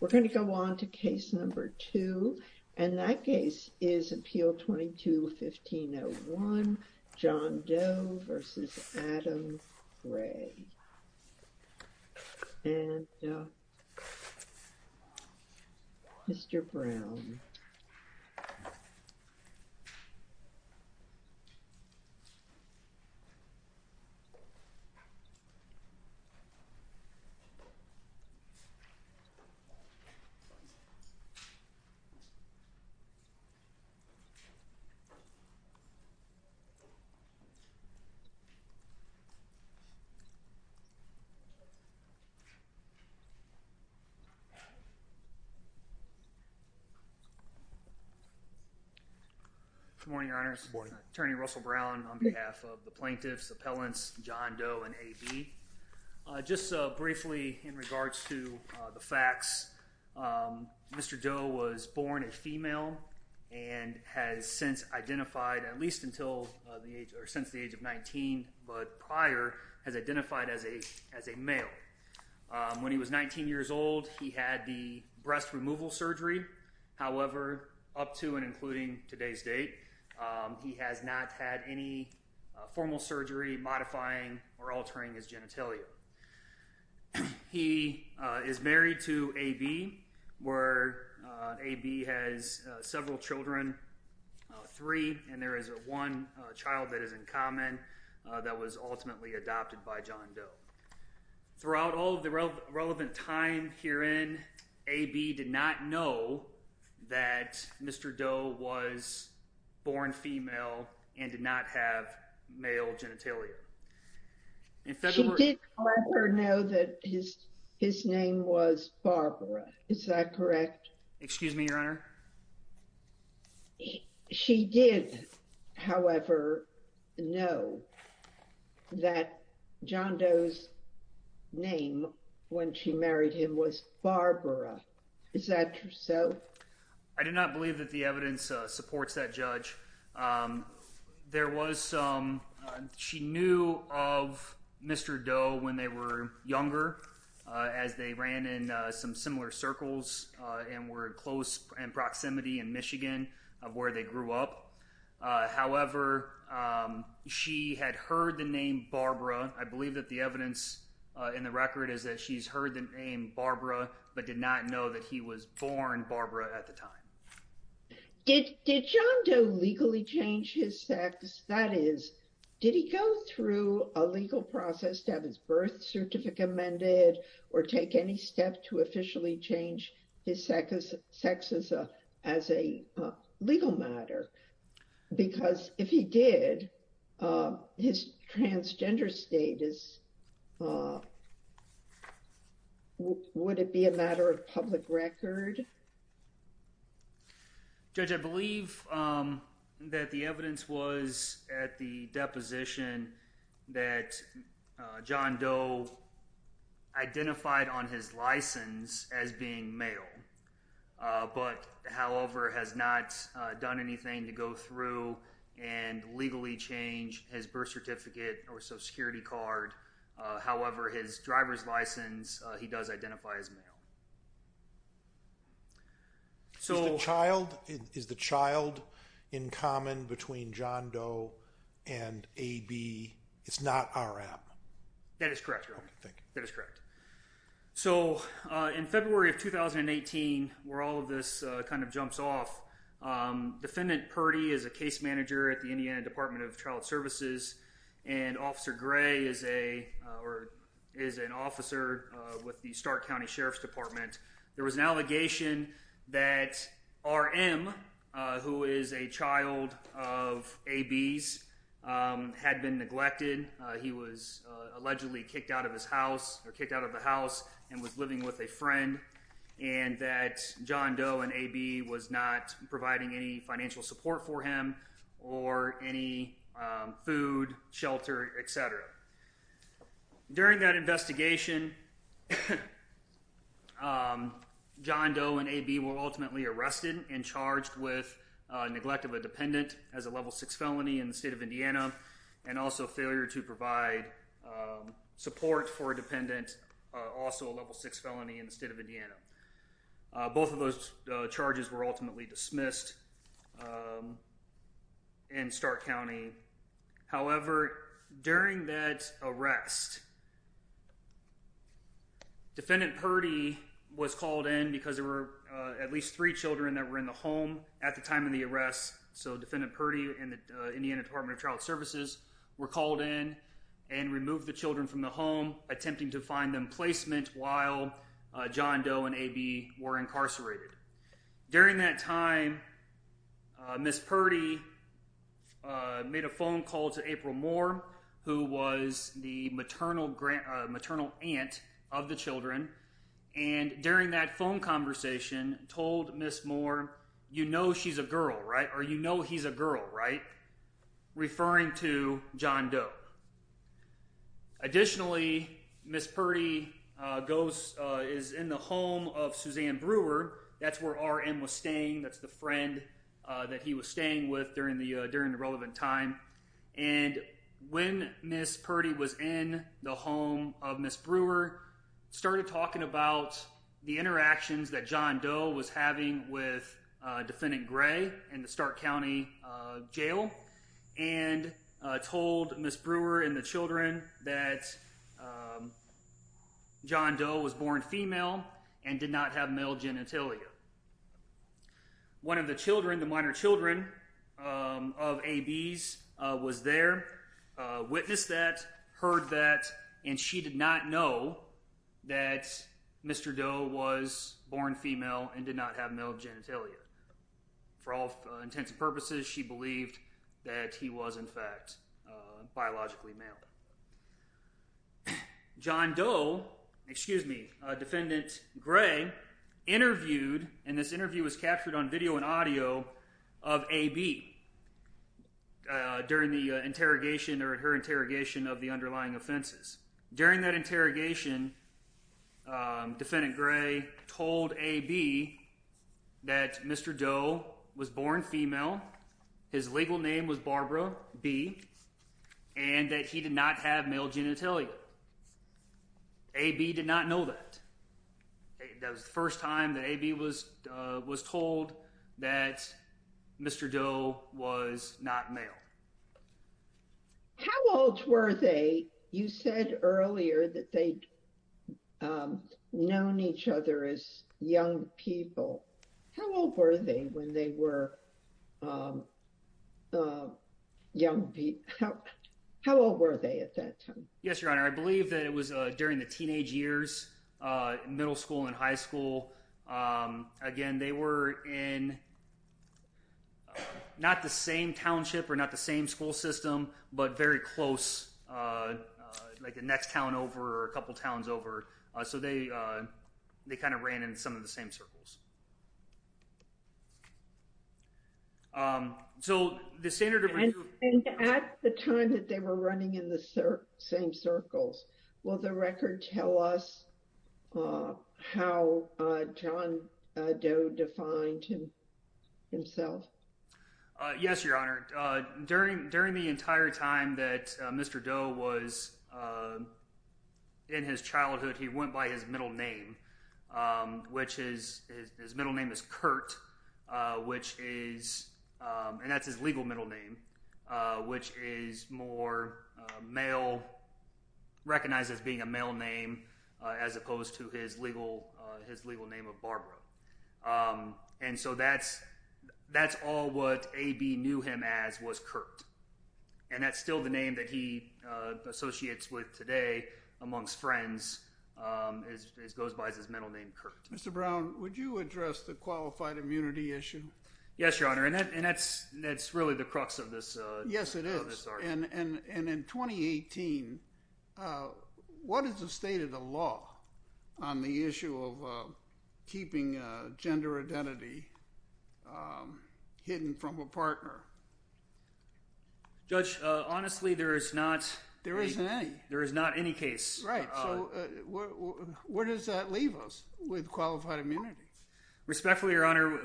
We're going to go on to case number two and that case is appeal 22-1501 John Doe v. Adam Gray and Mr. Brown Good morning, your honors. Attorney Russell Brown on behalf of the plaintiffs, appellants John Doe and AB. Just briefly in regards to the facts, Mr. Doe was born a female and has since identified at least until the age or since the age of 19 but prior has identified as a as a male. When he was 19 years old he had the breast removal surgery however up to and including today's date he has not had any formal surgery modifying or altering his genitalia. He is married to AB where AB has several children three and there is a one child that is in common that was ultimately adopted by John Doe. Throughout all of the relevant time herein AB did not know that Mr. Doe was born female and did not have male genitalia. She did however know that his his name was Barbara, is that correct? Excuse me, your honor. She did however know that John Doe's name when she married him was Barbara, is that so? I do not believe that the evidence supports that judge. There was some she knew of Mr. Doe when they were younger as they ran in some similar circles and were close in proximity in Michigan of where they grew up. However, she had heard the name Barbara. I believe that the evidence in the record is that she's heard the name Barbara but did not know that he was born Barbara at the time. Did John Doe legally change his sex? That is, did he go through a legal process to have his birth certificate amended or take any step to officially change his sex as a legal matter? Because if he did, his transgender status, would it be a matter of public record? Judge, I believe that the evidence was at the deposition that John Doe identified on his license as being male but however has not done anything to go through and legally change his birth certificate or social security card. However, his driver's license, he does identify as male. So child, is the child in common between John Doe and AB? It's not our app? That is correct. So in February of 2018, where all of this kind of jumps off, defendant Purdy is a case manager at the Indiana Department of Child Services and officer Gray is an officer with the Stark County Sheriff's Department. There was an allegation that RM, who is a child of AB's, had been neglected. He was allegedly kicked out of his house or kicked out of the house and was living with a friend and that John Doe and AB was not providing any financial support for him or any food, shelter, etc. During that investigation, John Doe and AB were ultimately arrested and charged with neglect of a dependent as a level six felony in the state of Indiana and also failure to provide support for a dependent, also a level six felony in the state of Indiana. Both of those charges were ultimately dismissed. In Stark County, however, during that arrest, defendant Purdy was called in because there were at least three children that were in the home at the time of the arrest. So defendant Purdy and the Indiana Department of Child Services were called in and removed the children from the home, attempting to find them placement while John Doe and AB were incarcerated. During that time, Ms. Purdy made a phone call to April Moore, who was the maternal aunt of the children, and during that phone conversation told Ms. Moore, you know she's a girl, right? Or you know he's a girl, right? Referring to John Doe. Additionally, Ms. Purdy is in the home of Suzanne Brewer. That's where RM was staying. That's the friend that he was staying with during the relevant time. And when Ms. Purdy was in the home of Ms. Brewer, started talking about the interactions that John Doe was having with defendant Gray in the Stark County Jail and told Ms. Brewer and the children that John Doe was born female and did not have male genitalia. One of the children, the minor children of AB's, was there, witnessed that, heard that, and she did not know that Mr. Doe was born female and did not have male genitalia. For all intents and purposes, she believed that he was in fact biologically male. John Doe, excuse me, defendant Gray interviewed, and this interview was captured on video and audio of AB during the interrogation or her interrogation of the underlying offenses. During that interrogation, defendant Gray told AB that Mr. Doe was born female, his legal name was Barbara B, and that he did not have male genitalia. AB did not know that. That was the first time that AB was told that Mr. Doe was not male. How old were they? You said earlier that they'd known each other as young people. How old were they when they were young people? How old were they at that time? Yes, Your Honor, I believe that it was during the teenage years, middle school and high school. Again, they were in not the same township or not the same school system, but very close, like the next town over or a couple towns over. So they kind of ran in some of the same circles. So the standard of... And at the time that they were running in the same circles, will the record tell us how John Doe defined himself? Yes, Your Honor. During the entire time that Mr. Doe was in his childhood, he went by his middle name, which is his middle name is Kurt, which is... And that's his legal middle name, which is more male, recognized as being a male name, as opposed to his legal name of Barbara. And so that's all what AB knew him as was Kurt. And that's still the name that he associates with today amongst friends, as goes by his middle name, Kurt. Mr. Brown, would you address the qualified immunity issue? Yes, Your Honor. And that's really the crux of this argument. Yes, it is. And in 2018, what is the state of the law on the issue of keeping gender identity hidden from a partner? Judge, honestly, there is not... There isn't any. There is not any case. Right. So where does that leave us with qualified immunity? Respectfully, Your Honor,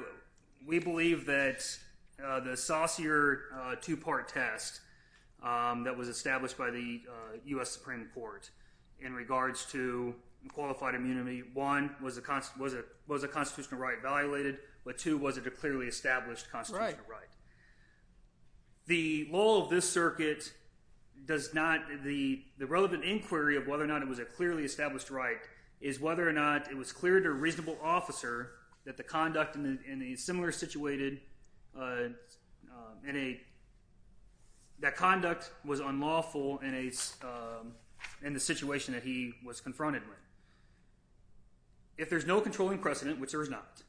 we believe that the saucier two-part test that was established by the U.S. Supreme Court in regards to qualified immunity, one, was a constitutional right violated, but two, was it a clearly established constitutional right? The law of this circuit does not... The relevant inquiry of whether or not it was a clearly established right is whether or not it was clear to a reasonable officer that the conduct in a similar situated... That conduct was unlawful in the situation that he was confronted with. If there's no controlling precedent, which there is not,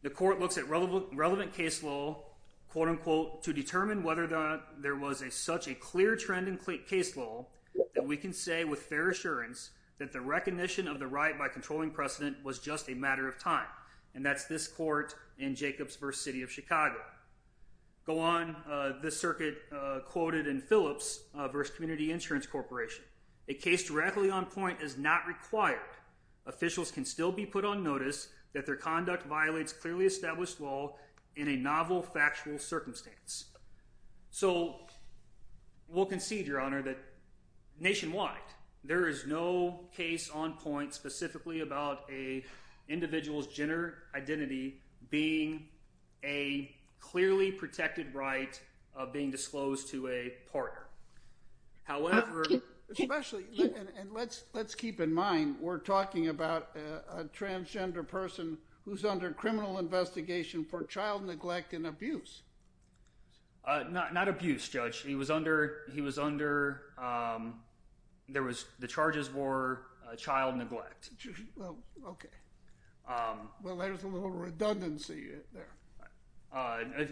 the court looks at relevant case law, quote-unquote, to determine whether or not there was such a clear trend in case law that we can say with fair assurance that the recognition of the right by controlling precedent was just a matter of time. And that's this court in Jacobs v. City of Chicago. Go on. This circuit quoted in Phillips v. Community Insurance Corporation, a case directly on point is not required. Officials can still be put on notice that their conduct violates clearly established law in a novel factual circumstance. So we'll concede, Your Honor, that nationwide there is no case on point specifically about a individual's gender identity being a clearly protected right of being disclosed to a partner. However... Especially, and let's keep in mind, we're talking about a transgender person who's under criminal investigation for child neglect and abuse. Not abuse, Judge. He was under... There was... The charges were child neglect. Well, okay. Well, there's a little redundancy there.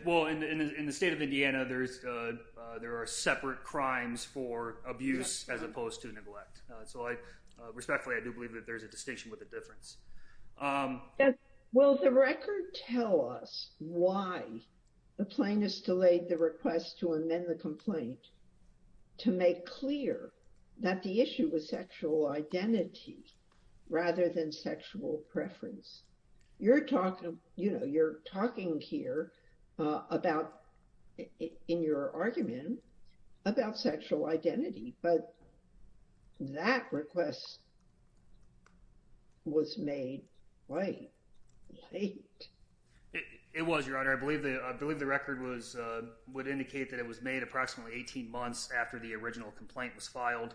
Well, in the state of Indiana, there are separate crimes for abuse as opposed to neglect. So respectfully, I do believe that there's a distinction with a difference. Will the record tell us why the plaintiffs delayed the request to amend the complaint to make clear that the issue was sexual identity rather than sexual preference? You're talking here about, in your argument, about sexual identity, but that request was made late. It was, Your Honor. I believe the record would indicate that it was made approximately 18 months after the original complaint was filed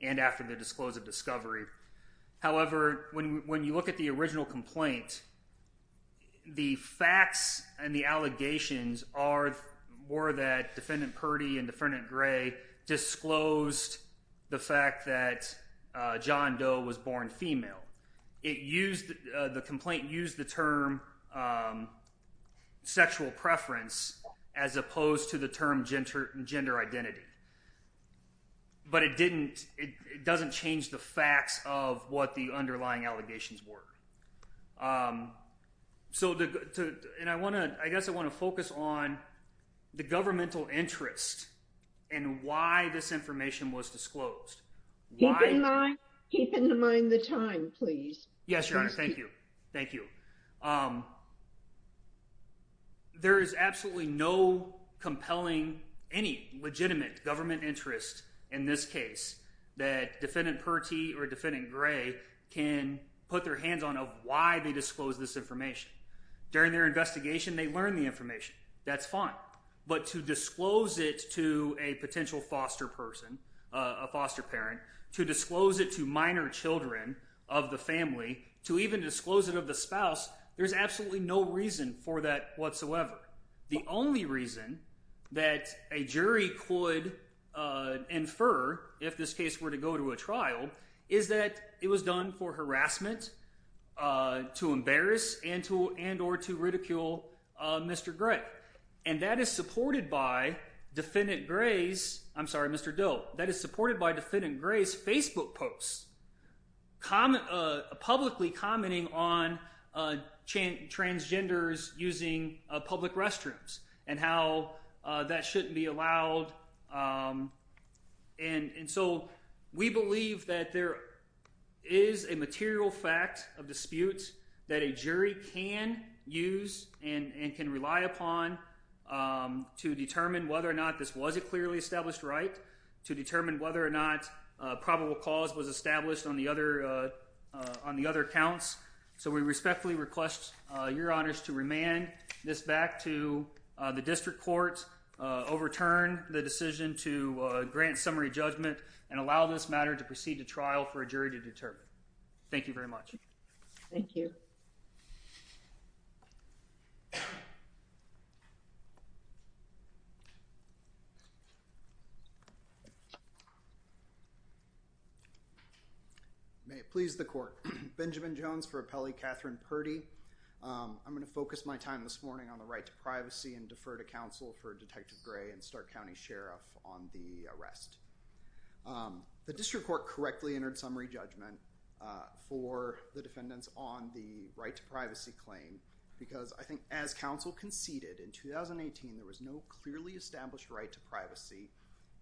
and after the disclosive discovery. However, when you look at the original complaint, the facts and the allegations are more that Defendant Purdy and Defendant Gray disclosed the fact that John Doe was born female. The complaint used the term sexual preference as opposed to the term gender identity. But it didn't... It doesn't change the facts of what the underlying allegations were. So, and I want to... I guess I want to focus on the governmental interest and why this information was disclosed. Keep in mind the time, please. Yes, Your Honor. Thank you. Thank you. Um, there is absolutely no compelling, any legitimate government interest in this case that Defendant Purdy or Defendant Gray can put their hands on of why they disclosed this information. During their investigation, they learned the information. That's fine. But to disclose it to a potential foster person, a foster parent, to disclose it to minor children of the family, to even disclose it of the spouse, there's absolutely no reason for that whatsoever. The only reason that a jury could infer if this case were to go to a trial is that it was done for harassment, to embarrass and or to ridicule Mr. Gray. And that is supported by Defendant Gray's Facebook posts publicly commenting on transgenders using public restrooms and how that shouldn't be allowed. And so we believe that there is a material fact of dispute that a jury can use and can rely upon to determine whether or not this was a clearly established right to determine whether or not probable cause was established on the other counts. So we respectfully request Your Honors to remand this back to the District Court, overturn the decision to grant summary judgment and allow this matter to proceed to trial for a jury to determine. Thank you very much. Thank you. May it please the Court. Benjamin Jones for Appellee Katherine Purdy. I'm going to focus my time this morning on the right to privacy and defer to counsel for Detective Gray and Stark County Sheriff on the arrest. The District Court correctly entered summary judgment for the defendants on the right to privacy claim because I think as counsel conceded in 2018 there was no clearly established right to privacy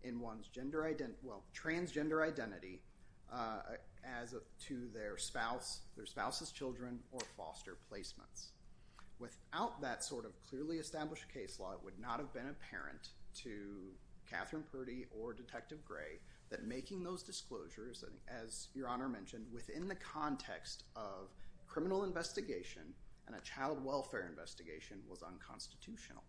in one's transgender identity as to their spouse, their spouse's children, or foster placements. Without that sort of clearly established case law it would not have been apparent to Katherine Purdy or Detective Gray that making those disclosures, as Your Honor mentioned, within the context of criminal investigation and a child welfare investigation was unconstitutional.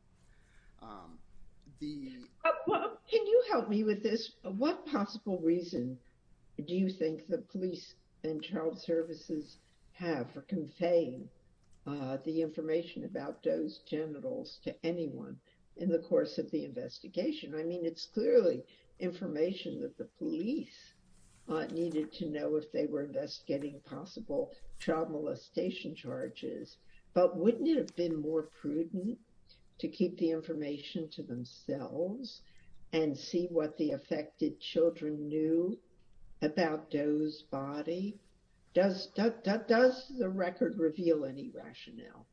Can you help me with this? What possible reason do you think the police and child services have for conveying the information about those genitals to anyone in the course of the investigation? I mean it's clearly information that the police needed to know if they were investigating possible child molestation charges, but wouldn't it have been more prudent to keep the information to themselves and see what the affected children knew about Doe's body? Does, does the record reveal any rationale?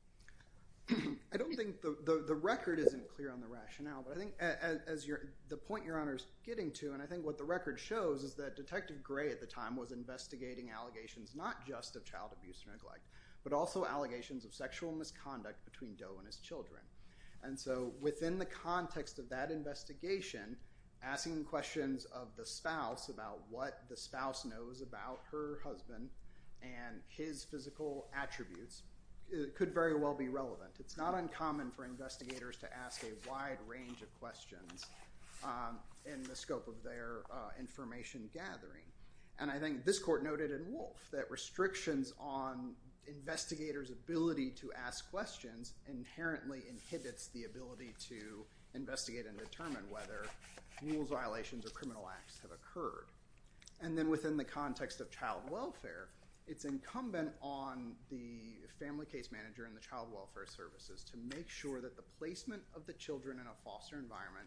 I don't think the, the record isn't clear on the rationale, but I think as your, the point Your Honor is getting to and I think what the record shows is that Detective Gray at the time was investigating allegations not just of Doe and his children. And so within the context of that investigation, asking questions of the spouse about what the spouse knows about her husband and his physical attributes could very well be relevant. It's not uncommon for investigators to ask a wide range of questions in the scope of their information gathering. And I think this court noted in Wolf that restrictions on investigators' ability to ask questions inherently inhibits the ability to investigate and determine whether mule's violations or criminal acts have occurred. And then within the context of child welfare, it's incumbent on the family case manager and the child welfare services to make sure that the placement of the children in a foster environment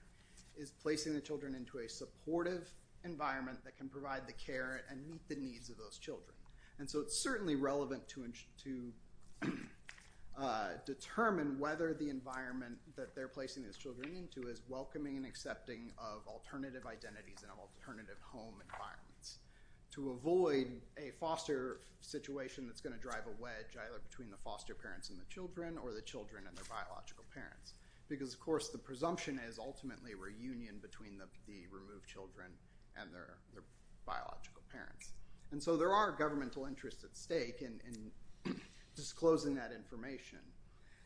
is placing the children into a supportive environment that can provide the care and meet the needs of those children. And so it's highly relevant to, to determine whether the environment that they're placing these children into is welcoming and accepting of alternative identities and of alternative home environments to avoid a foster situation that's going to drive a wedge either between the foster parents and the children or the children and their biological parents. Because of course the presumption is ultimately a reunion between the, the removed children and their, their biological parents. And so there are governmental interests at stake in, in disclosing that information.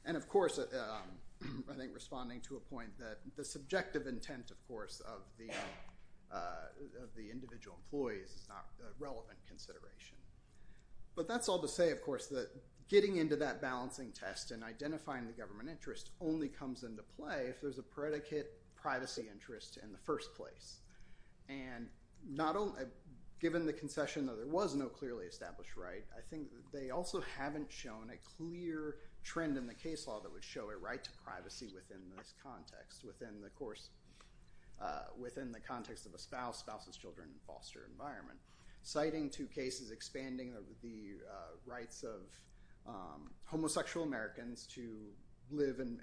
And of course I think responding to a point that the subjective intent of course of the, of the individual employees is not a relevant consideration. But that's all to say of course that getting into that balancing test and identifying the government interest only comes into play if there's a predicate privacy interest in the first place. And not only, given the concession that there was no clearly established right, I think they also haven't shown a clear trend in the case law that would show a right to privacy within this context, within the course, within the context of a spouse, spouse's children, foster environment. Citing two cases expanding the rights of homosexual Americans to live and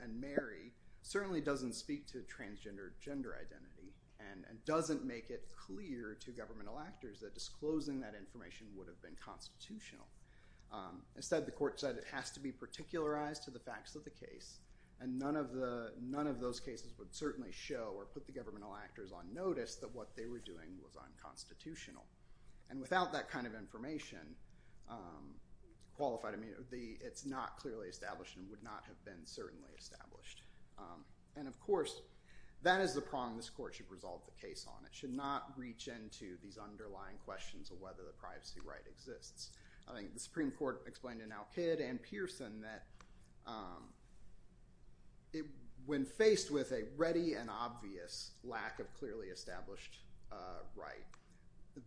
doesn't make it clear to governmental actors that disclosing that information would have been constitutional. Instead the court said it has to be particularized to the facts of the case and none of the, none of those cases would certainly show or put the governmental actors on notice that what they were doing was unconstitutional. And without that kind of information qualified, I mean the, it's not clearly established and would not have been certainly established. And of course that is the prong this court should resolve the case on. It should not reach into these underlying questions of whether the privacy right exists. I think the Supreme Court explained in Al-Qaeda and Pearson that when faced with a ready and obvious lack of clearly established right,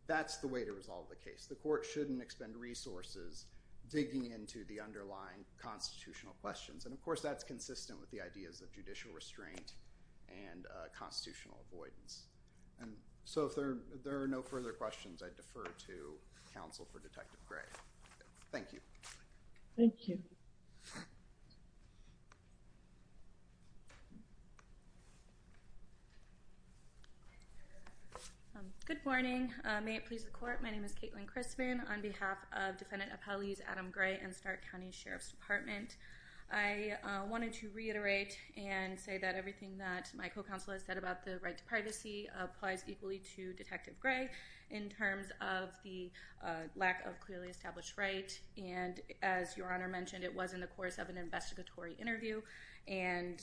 that's the way to resolve the case. The court shouldn't expend resources digging into the underlying constitutional questions. And of course that's consistent with the ideas of judicial restraint and constitutional avoidance. And so if there are no further questions, I defer to counsel for Detective Gray. Thank you. Thank you. Good morning. May it please the court, my name is Kaitlyn Crispin on behalf of Defendant Appellees Adam Gray and Stark County Sheriff's Department. I wanted to reiterate and say that everything that my co-counsel has said about the right to privacy applies equally to Detective Gray in terms of the lack of clearly established right. And as your honor mentioned, it was in the course of an investigatory interview. And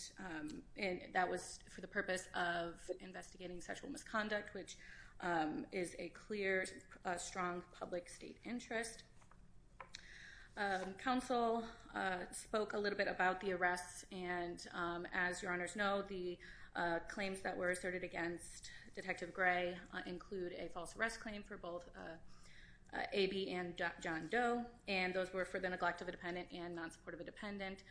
that was for the purpose of investigating sexual misconduct, which is a clear, strong public state interest. Counsel spoke a little bit about the arrests. And as your honors know, the claims that were asserted against Detective Gray include a false arrest claim for both A.B. and John Doe. And those were for the neglect of a dependent and non-support of a dependent.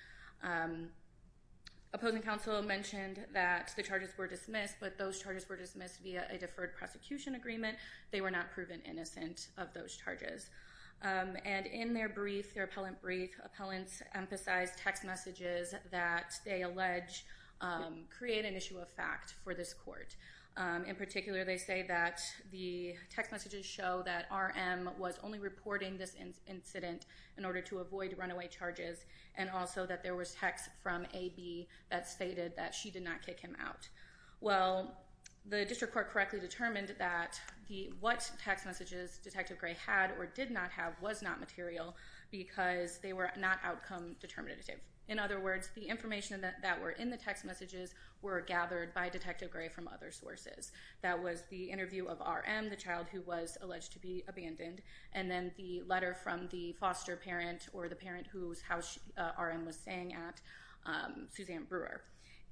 Opposing counsel mentioned that the charges were dismissed, but those charges were dismissed via a deferred prosecution agreement. They were not proven innocent of those charges. And in their brief, their appellant brief, appellants emphasize text messages that they allege create an issue of fact for this court. In particular, they say that the text messages show that R.M. was only reporting this incident in order to avoid runaway charges. And also that there was text from A.B. that stated that she did not kick him out. Well, the District Court correctly determined that what text messages Detective Gray had or did not have was not material because they were not outcome determinative. In other words, the information that were in the text messages were gathered by Detective Gray from other sources. That was the interview of R.M., the child who was alleged to be abandoned. And then the letter from the foster parent or the foster parent who was staying at Suzanne Brewer.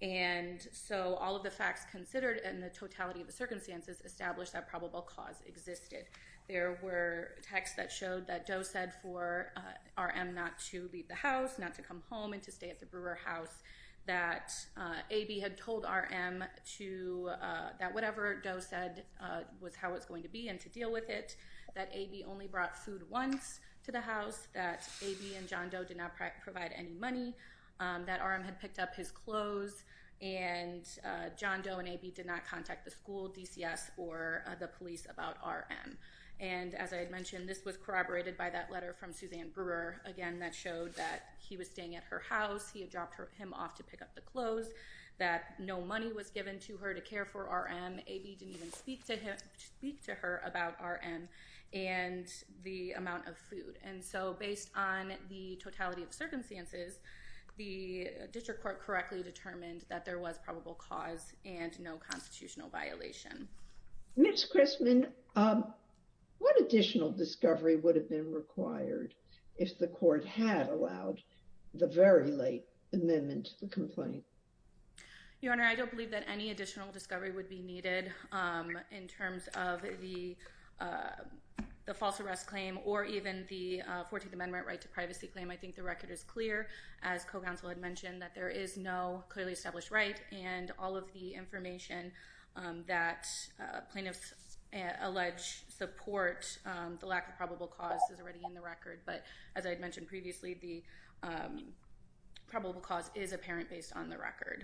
And so all of the facts considered and the totality of the circumstances established that probable cause existed. There were texts that showed that Doe said for R.M. not to leave the house, not to come home, and to stay at the Brewer house, that A.B. had told R.M. that whatever Doe said was how it was going to be and to deal with it, that A.B. only brought food once to the house, that A.B. and John Doe did not provide any money, that R.M. had picked up his clothes, and John Doe and A.B. did not contact the school, DCS, or the police about R.M. And as I had mentioned, this was corroborated by that letter from Suzanne Brewer. Again, that showed that he was staying at her house. He had dropped him off to pick up the clothes, that no money was given to her to care for R.M. A.B. didn't even speak to him speak to about R.M. and the amount of food. And so based on the totality of circumstances, the district court correctly determined that there was probable cause and no constitutional violation. Ms. Christman, what additional discovery would have been required if the court had allowed the very late amendment to the complaint? Your Honor, I don't believe that any additional discovery would be needed in terms of the false arrest claim or even the 14th Amendment right to privacy claim. I think the record is clear, as co-counsel had mentioned, that there is no clearly established right and all of the information that plaintiffs allege support the lack of probable cause is already in the record. But as I had mentioned previously, the record.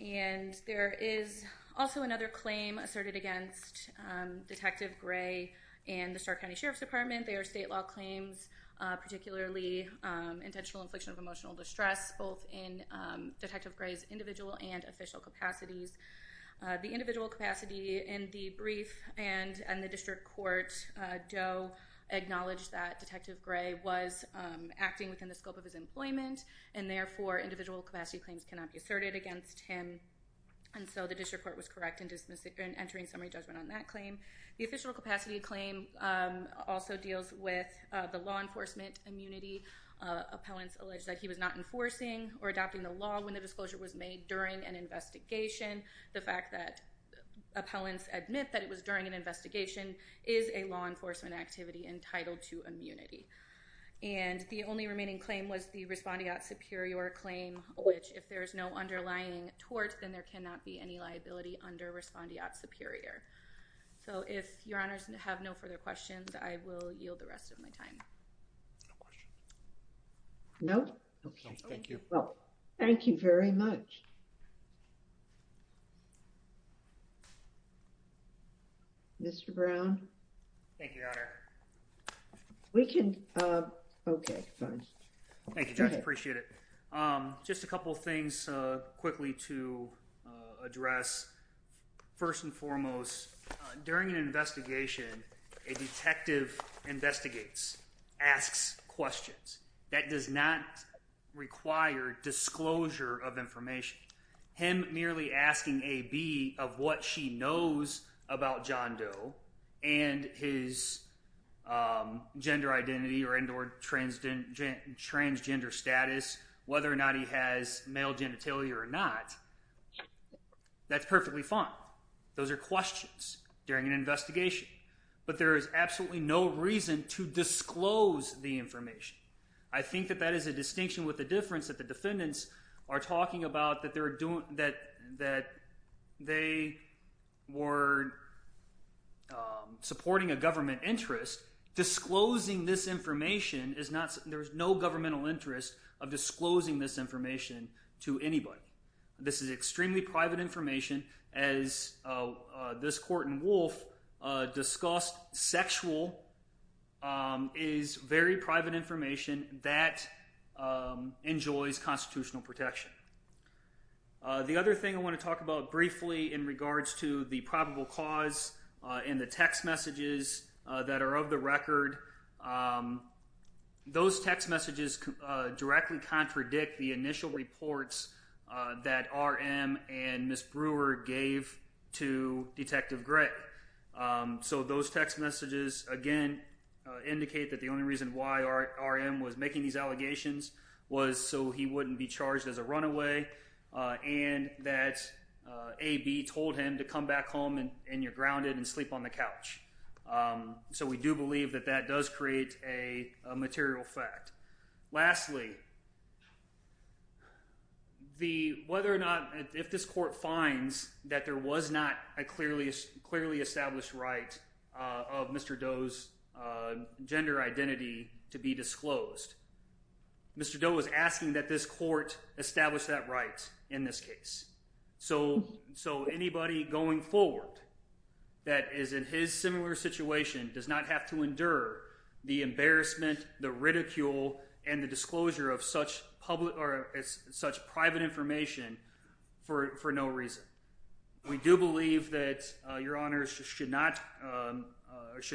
And there is also another claim asserted against Detective Gray and the Stark County Sheriff's Department. They are state law claims, particularly intentional infliction of emotional distress, both in Detective Gray's individual and official capacities. The individual capacity in the brief and the district court do acknowledge that Detective Gray was acting within the scope of claims cannot be asserted against him. And so the district court was correct in entering summary judgment on that claim. The official capacity claim also deals with the law enforcement immunity. Appellants allege that he was not enforcing or adopting the law when the disclosure was made during an investigation. The fact that appellants admit that it was during an investigation is a law enforcement activity entitled to immunity. And the only remaining claim was the if there is no underlying tort, then there cannot be any liability under respondeat superior. So if your honors have no further questions, I will yield the rest of my time. No. Thank you. Thank you very much. Mr. Brown. Thank you, Your Honor. We can. Okay. Thank you, Judge. Appreciate it. Just a couple of things quickly to address. First and foremost, during an investigation, a detective investigates, asks questions that does not require disclosure of information. Him merely asking a B of what she knows about John Doe and his gender identity or indoor transgender status, whether or not he has male genitalia or not. That's perfectly fine. Those are questions during an investigation. But there is absolutely no reason to disclose the information. I think that that is a distinction with the difference that the defendants are talking about that they were supporting a government interest. Disclosing this information is not there is no governmental interest of disclosing this information to anybody. This is extremely private information. As this court in Wolf discussed, sexual is very private information that enjoys constitutional protection. The other thing I want to talk about briefly in regards to the probable cause and the text messages that are of the record. Those text messages directly contradict the initial reports that RM and Ms. Brewer gave to Detective Gregg. So those text messages, again, indicate that the only reason why RM was making these allegations was so he wouldn't be charged as a runaway and that AB told him to come back home and you're grounded and sleep on the couch. So we do believe that that does create a material fact. Lastly, if this court finds that there was not a clearly established right of Mr. Doe's gender identity to be disclosed, Mr. Doe was asking that this court establish that in this case. So anybody going forward that is in his similar situation does not have to endure the embarrassment, the ridicule, and the disclosure of such private information for no reason. We do believe that your honors should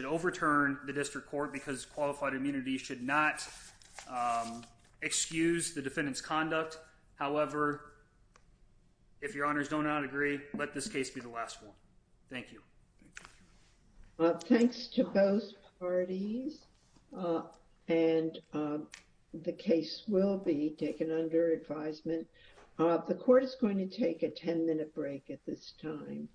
overturn the district court because qualified immunity should not excuse the defendant's conduct. However, if your honors do not agree, let this case be the last one. Thank you. Thanks to both parties and the case will be taken under advisement. The court is going to take a 10-minute break at this time.